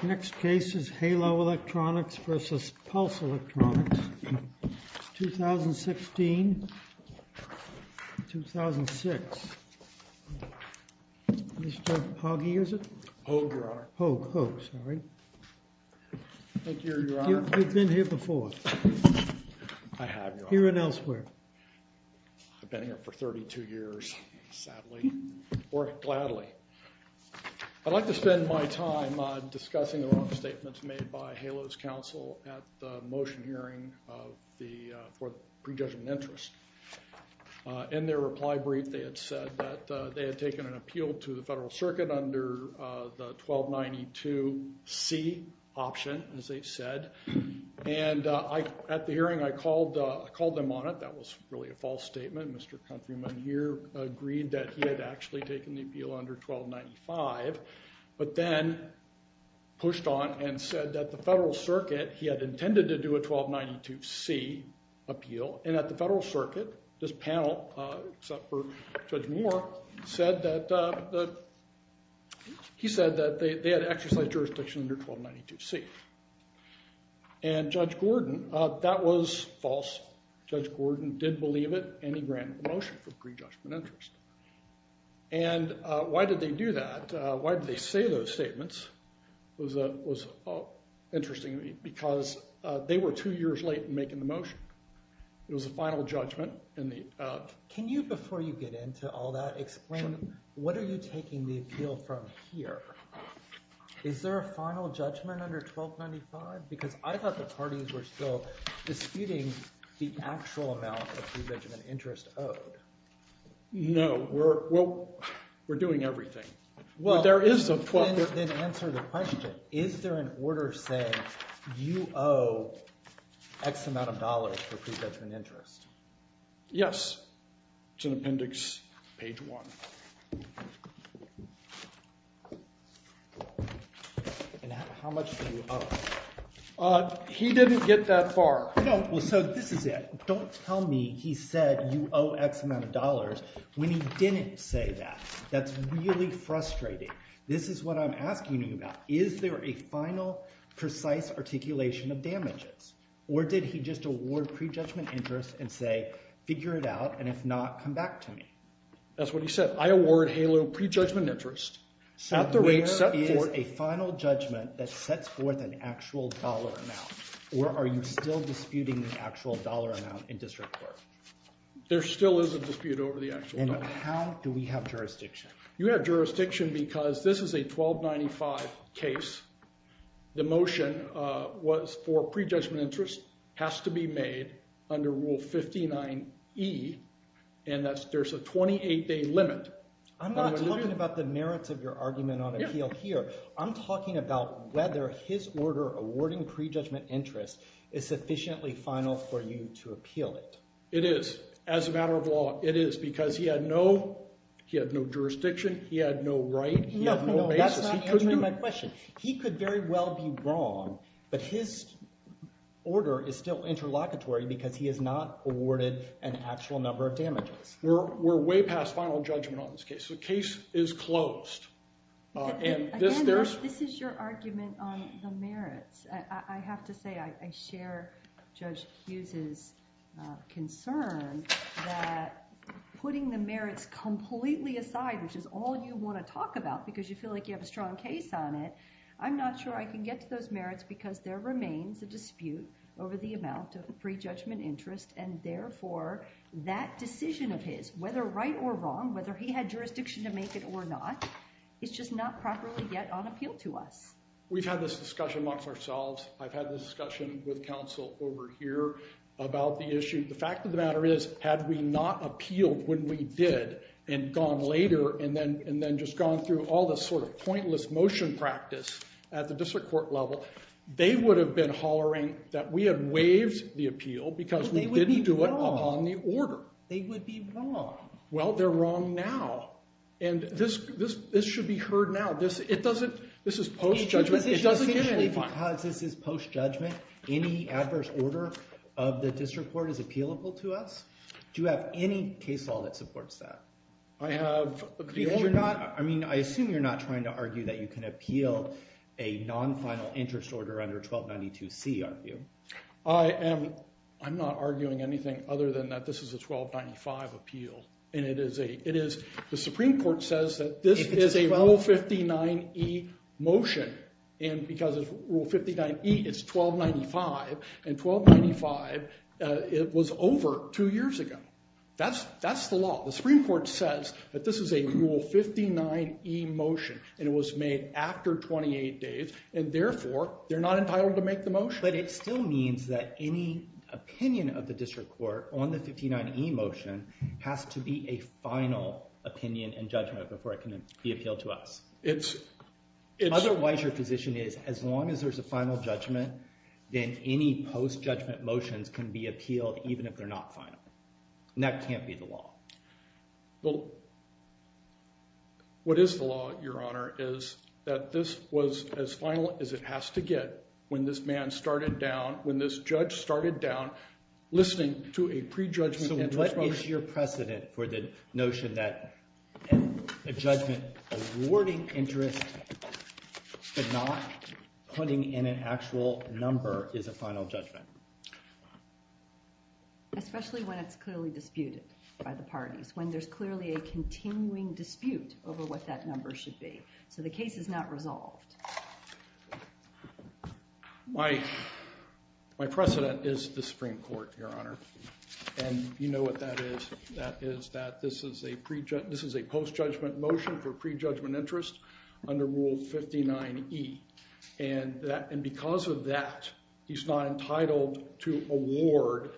Next case is Halo Electronics versus Pulse Electronics, 2016-2006. Mr. Hogge, is it? Hogue, Your Honor. Hogue, Hogue, sorry. Thank you, Your Honor. You've been here before. I have, Your Honor. Here and elsewhere. I've been here for 32 years, sadly, or gladly. I'd like to spend my time discussing the wrong statements made by Halo's counsel at the motion hearing for the prejudgment interest. In their reply brief, they had said that they had taken an appeal to the Federal Circuit under the 1292C option, as they said. And at the hearing, I called them on it. That was really a false statement. Mr. Countryman here agreed that he had actually taken the appeal under 1295, but then pushed on and said that the Federal Circuit, he had intended to do a 1292C appeal. And at the Federal Circuit, this panel, except for Judge Moore, he said that they had exercised jurisdiction under 1292C. And Judge Gordon, that was false. Judge Gordon did believe it, and he granted the motion for the prejudgment interest. And why did they do that? Why did they say those statements was interesting, because they were two years late in making the motion. It was a final judgment. Can you, before you get into all that, explain what are you taking the appeal from here? Is there a final judgment under 1295? Because I thought the parties were still disputing the actual amount of prejudgment interest owed. No, we're doing everything. Well, then answer the question. Is there an order saying you owe X amount of dollars for prejudgment interest? Yes. It's in appendix page one. And how much do you owe? He didn't get that far. So this is it. Don't tell me he said you owe X amount of dollars when he didn't say that. That's really frustrating. This is what I'm asking you about. Is there a final, precise articulation of damages? Or did he just award prejudgment interest and say, figure it out, and if not, come back to me? That's what he said. I award HALO prejudgment interest. So where is a final judgment that sets forth an actual dollar amount? Or are you still disputing the actual dollar amount in district court? There still is a dispute over the actual dollar amount. And how do we have jurisdiction? You have jurisdiction because this is a 1295 case. The motion was for prejudgment interest has to be made under Rule 59E, and there's a 28-day limit. I'm not talking about the merits of your argument on appeal here. I'm talking about whether his order awarding prejudgment interest is sufficiently final for you to appeal it. It is. As a matter of law, it is because he had no jurisdiction. He had no right. He had no basis. That's not answering my question. He could very well be wrong, but his order is still interlocutory because he has not awarded an actual number of damages. We're way past final judgment on this case. The case is closed. Again, this is your argument on the merits. I have to say I share Judge Hughes' concern that putting the merits completely aside, which is all you want to talk about because you feel like you have a strong case on it, I'm not sure I can get to those merits because there remains a dispute over the amount of prejudgment interest, and therefore that decision of his, whether right or wrong, whether he had jurisdiction to make it or not, is just not properly yet on appeal to us. We've had this discussion amongst ourselves. I've had this discussion with counsel over here about the issue. The fact of the matter is had we not appealed when we did and gone later and then just gone through all this sort of pointless motion practice at the district court level, they would have been hollering that we had waived the appeal because we didn't do it upon the order. They would be wrong. Well, they're wrong now. And this should be heard now. This is post-judgment. It doesn't get any fun. Because this is post-judgment, any adverse order of the district court is appealable to us? Do you have any case law that supports that? I assume you're not trying to argue that you can appeal a non-final interest order under 1292C, are you? I'm not arguing anything other than that this is a 1295 appeal. And the Supreme Court says that this is a Rule 59e motion. And because of Rule 59e, it's 1295. And 1295, it was over two years ago. That's the law. The Supreme Court says that this is a Rule 59e motion. And it was made after 28 days. And therefore, they're not entitled to make the motion. But it still means that any opinion of the district court on the 59e motion has to be a final opinion and judgment before it can be appealed to us. Otherwise, your position is as long as there's a final judgment, then any post-judgment motions can be appealed even if they're not final. And that can't be the law. What is the law, Your Honor, is that this was as final as it has to get when this man started down, when this judge started down, listening to a pre-judgment interest motion. So what is your precedent for the notion that a judgment awarding interest but not putting in an actual number is a final judgment? Especially when it's clearly disputed by the parties, when there's clearly a continuing dispute over what that number should be. So the case is not resolved. My precedent is the Supreme Court, Your Honor. And you know what that is. That is that this is a post-judgment motion for pre-judgment interest under Rule 59e. And because of that, he's not entitled to award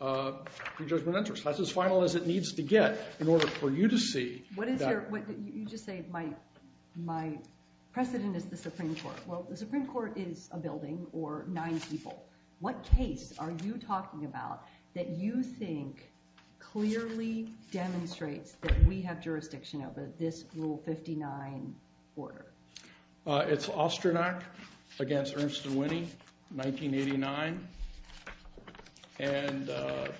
pre-judgment interest. That's as final as it needs to get in order for you to see that. You just say my precedent is the Supreme Court. Well, the Supreme Court is a building or nine people. What case are you talking about that you think clearly demonstrates that we have jurisdiction over this Rule 59 order? It's Ostrinak against Ernst and Winnie, 1989. And the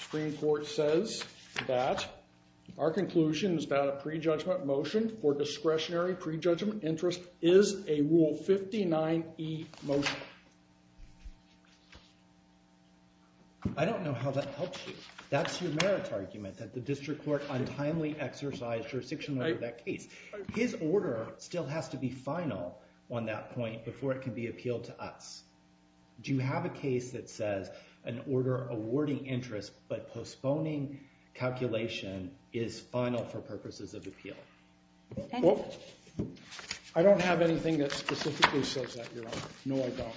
Supreme Court says that our conclusion is that a pre-judgment motion for discretionary pre-judgment interest is a Rule 59e motion. I don't know how that helps you. That's your merit argument, that the district court untimely exercised jurisdiction over that case. His order still has to be final on that point before it can be appealed to us. Do you have a case that says an order awarding interest but postponing calculation is final for purposes of appeal? Well, I don't have anything that specifically says that, Your Honor. No, I don't.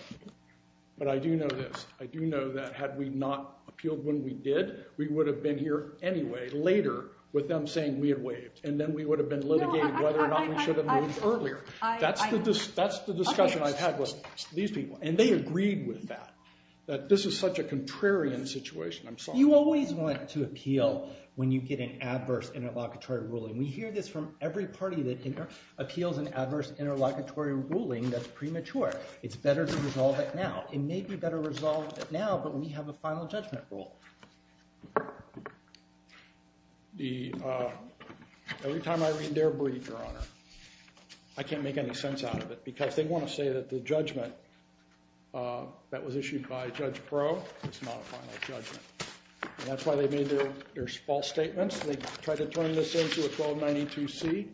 But I do know this. I do know that had we not appealed when we did, we would have been here anyway later with them saying we had waived. And then we would have been litigated whether or not we should have moved earlier. That's the discussion I've had with these people. And they agreed with that, that this is such a contrarian situation. I'm sorry. You always want to appeal when you get an adverse interlocutory ruling. We hear this from every party that appeals an adverse interlocutory ruling that's premature. It's better to resolve it now. It may be better resolved now, but we have a final judgment rule. Every time I read their brief, Your Honor, I can't make any sense out of it. Because they want to say that the judgment that was issued by Judge Breaux is not a final judgment. And that's why they made their false statements. They tried to turn this into a 1292C.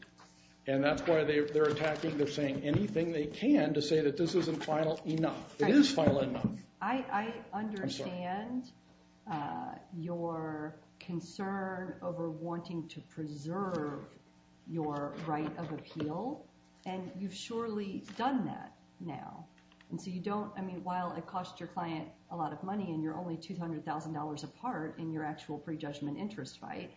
And that's why they're attacking. They're saying anything they can to say that this isn't final enough. It is final enough. I understand your concern over wanting to preserve your right of appeal. And you've surely done that now. And so you don't—I mean, while it costs your client a lot of money and you're only $200,000 apart in your actual prejudgment interest fight,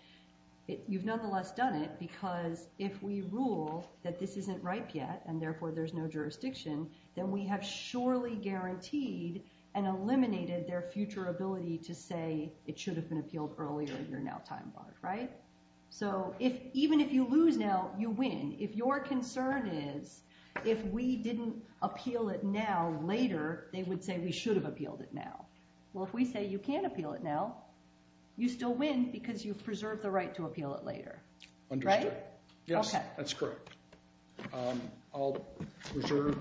you've nonetheless done it because if we rule that this isn't ripe yet, and therefore there's no jurisdiction, then we have surely guaranteed and eliminated their future ability to say it should have been appealed earlier. You're now time-barred, right? So even if you lose now, you win. If your concern is if we didn't appeal it now later, they would say we should have appealed it now. Well, if we say you can't appeal it now, you still win because you've preserved the right to appeal it later. Right? Yes, that's correct. I'll reserve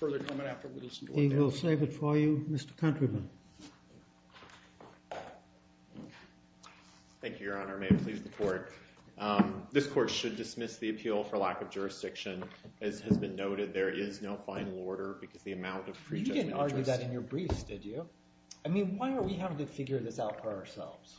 further comment after we listen to what Daniel has to say. We'll save it for you. Mr. Countryman. Thank you, Your Honor. May it please the Court. This Court should dismiss the appeal for lack of jurisdiction. As has been noted, there is no final order because the amount of prejudgment interest— You didn't argue that in your briefs, did you? I mean, why are we having to figure this out for ourselves?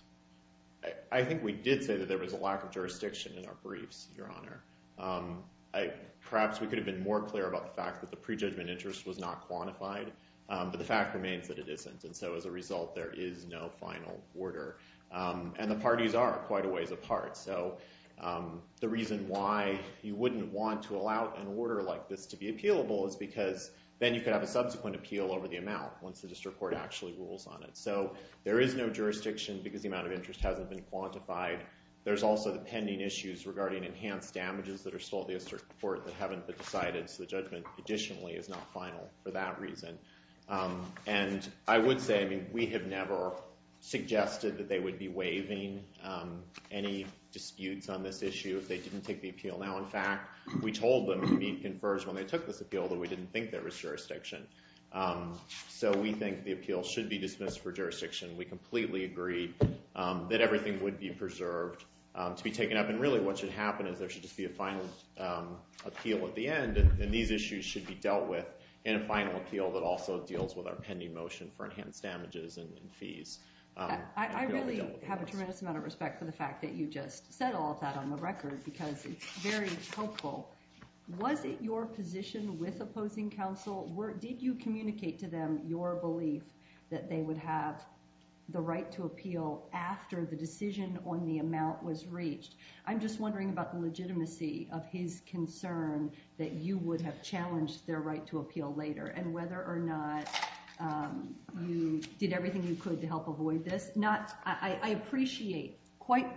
I think we did say that there was a lack of jurisdiction in our briefs, Your Honor. Perhaps we could have been more clear about the fact that the prejudgment interest was not quantified. But the fact remains that it isn't. And so as a result, there is no final order. And the parties are quite a ways apart. So the reason why you wouldn't want to allow an order like this to be appealable is because then you could have a subsequent appeal over the amount once the district court actually rules on it. So there is no jurisdiction because the amount of interest hasn't been quantified. There's also the pending issues regarding enhanced damages that are still at the district court that haven't been decided. So the judgment, additionally, is not final for that reason. And I would say, I mean, we have never suggested that they would be waiving any disputes on this issue if they didn't take the appeal. Now, in fact, we told them to be confers when they took this appeal, but we didn't think there was jurisdiction. So we think the appeal should be dismissed for jurisdiction. We completely agree that everything would be preserved to be taken up. And really what should happen is there should just be a final appeal at the end, and these issues should be dealt with in a final appeal that also deals with our pending motion for enhanced damages and fees. I really have a tremendous amount of respect for the fact that you just said all of that on the record because it's very hopeful. Was it your position with opposing counsel? Did you communicate to them your belief that they would have the right to appeal after the decision on the amount was reached? I'm just wondering about the legitimacy of his concern that you would have challenged their right to appeal later and whether or not you did everything you could to help avoid this. I appreciate, quite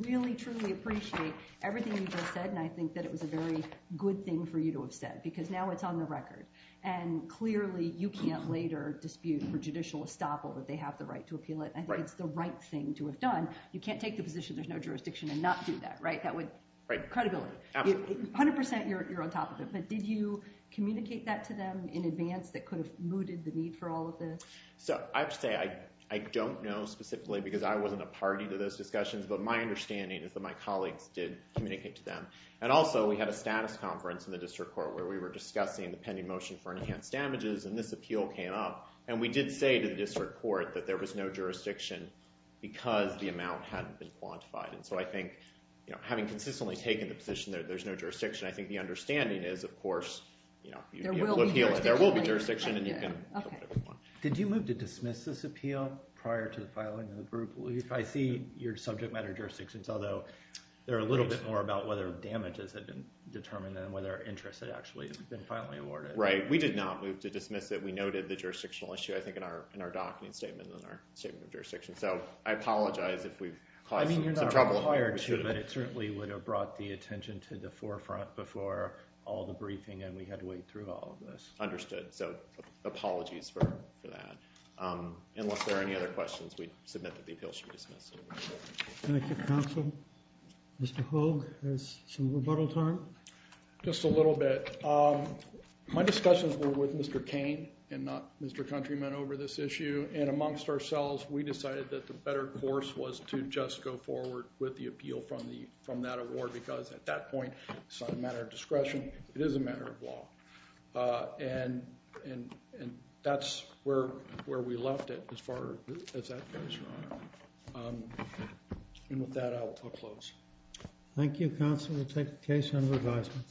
really truly appreciate everything you just said, and I think that it was a very good thing for you to have said because now it's on the record. And clearly you can't later dispute for judicial estoppel that they have the right to appeal it. I think it's the right thing to have done. You can't take the position there's no jurisdiction and not do that, right? That would break credibility. Absolutely. 100% you're on top of it, but did you communicate that to them in advance that could have mooted the need for all of this? So I have to say I don't know specifically because I wasn't a party to those discussions, but my understanding is that my colleagues did communicate to them. And also we had a status conference in the district court where we were discussing the pending motion for enhanced damages, and this appeal came up. And we did say to the district court that there was no jurisdiction because the amount hadn't been quantified. And so I think having consistently taken the position that there's no jurisdiction, I think the understanding is, of course, you'd be able to appeal it. There will be jurisdiction. Did you move to dismiss this appeal prior to the filing of the group? I see your subject matter jurisdictions, although they're a little bit more about whether damages had been determined than whether interest had actually been finally awarded. Right. We did not move to dismiss it. We noted the jurisdictional issue, I think, in our docketing statement and our statement of jurisdiction. So I apologize if we've caused some trouble. I mean, you're not required to, but it certainly would have brought the attention to the forefront before all the briefing and we had to wait through all of this. Understood. So apologies for that. Unless there are any other questions, we submit that the appeal should be dismissed. Thank you, counsel. Mr. Hogue, there's some rebuttal time. Just a little bit. My discussions were with Mr. Cain and not Mr. Countryman over this issue. And amongst ourselves, we decided that the better course was to just go forward with the appeal from that award because at that point, it's not a matter of discretion. It is a matter of law. And that's where we left it as far as that goes, Your Honor. And with that, I will close. Thank you, counsel. We'll take the case under advisement.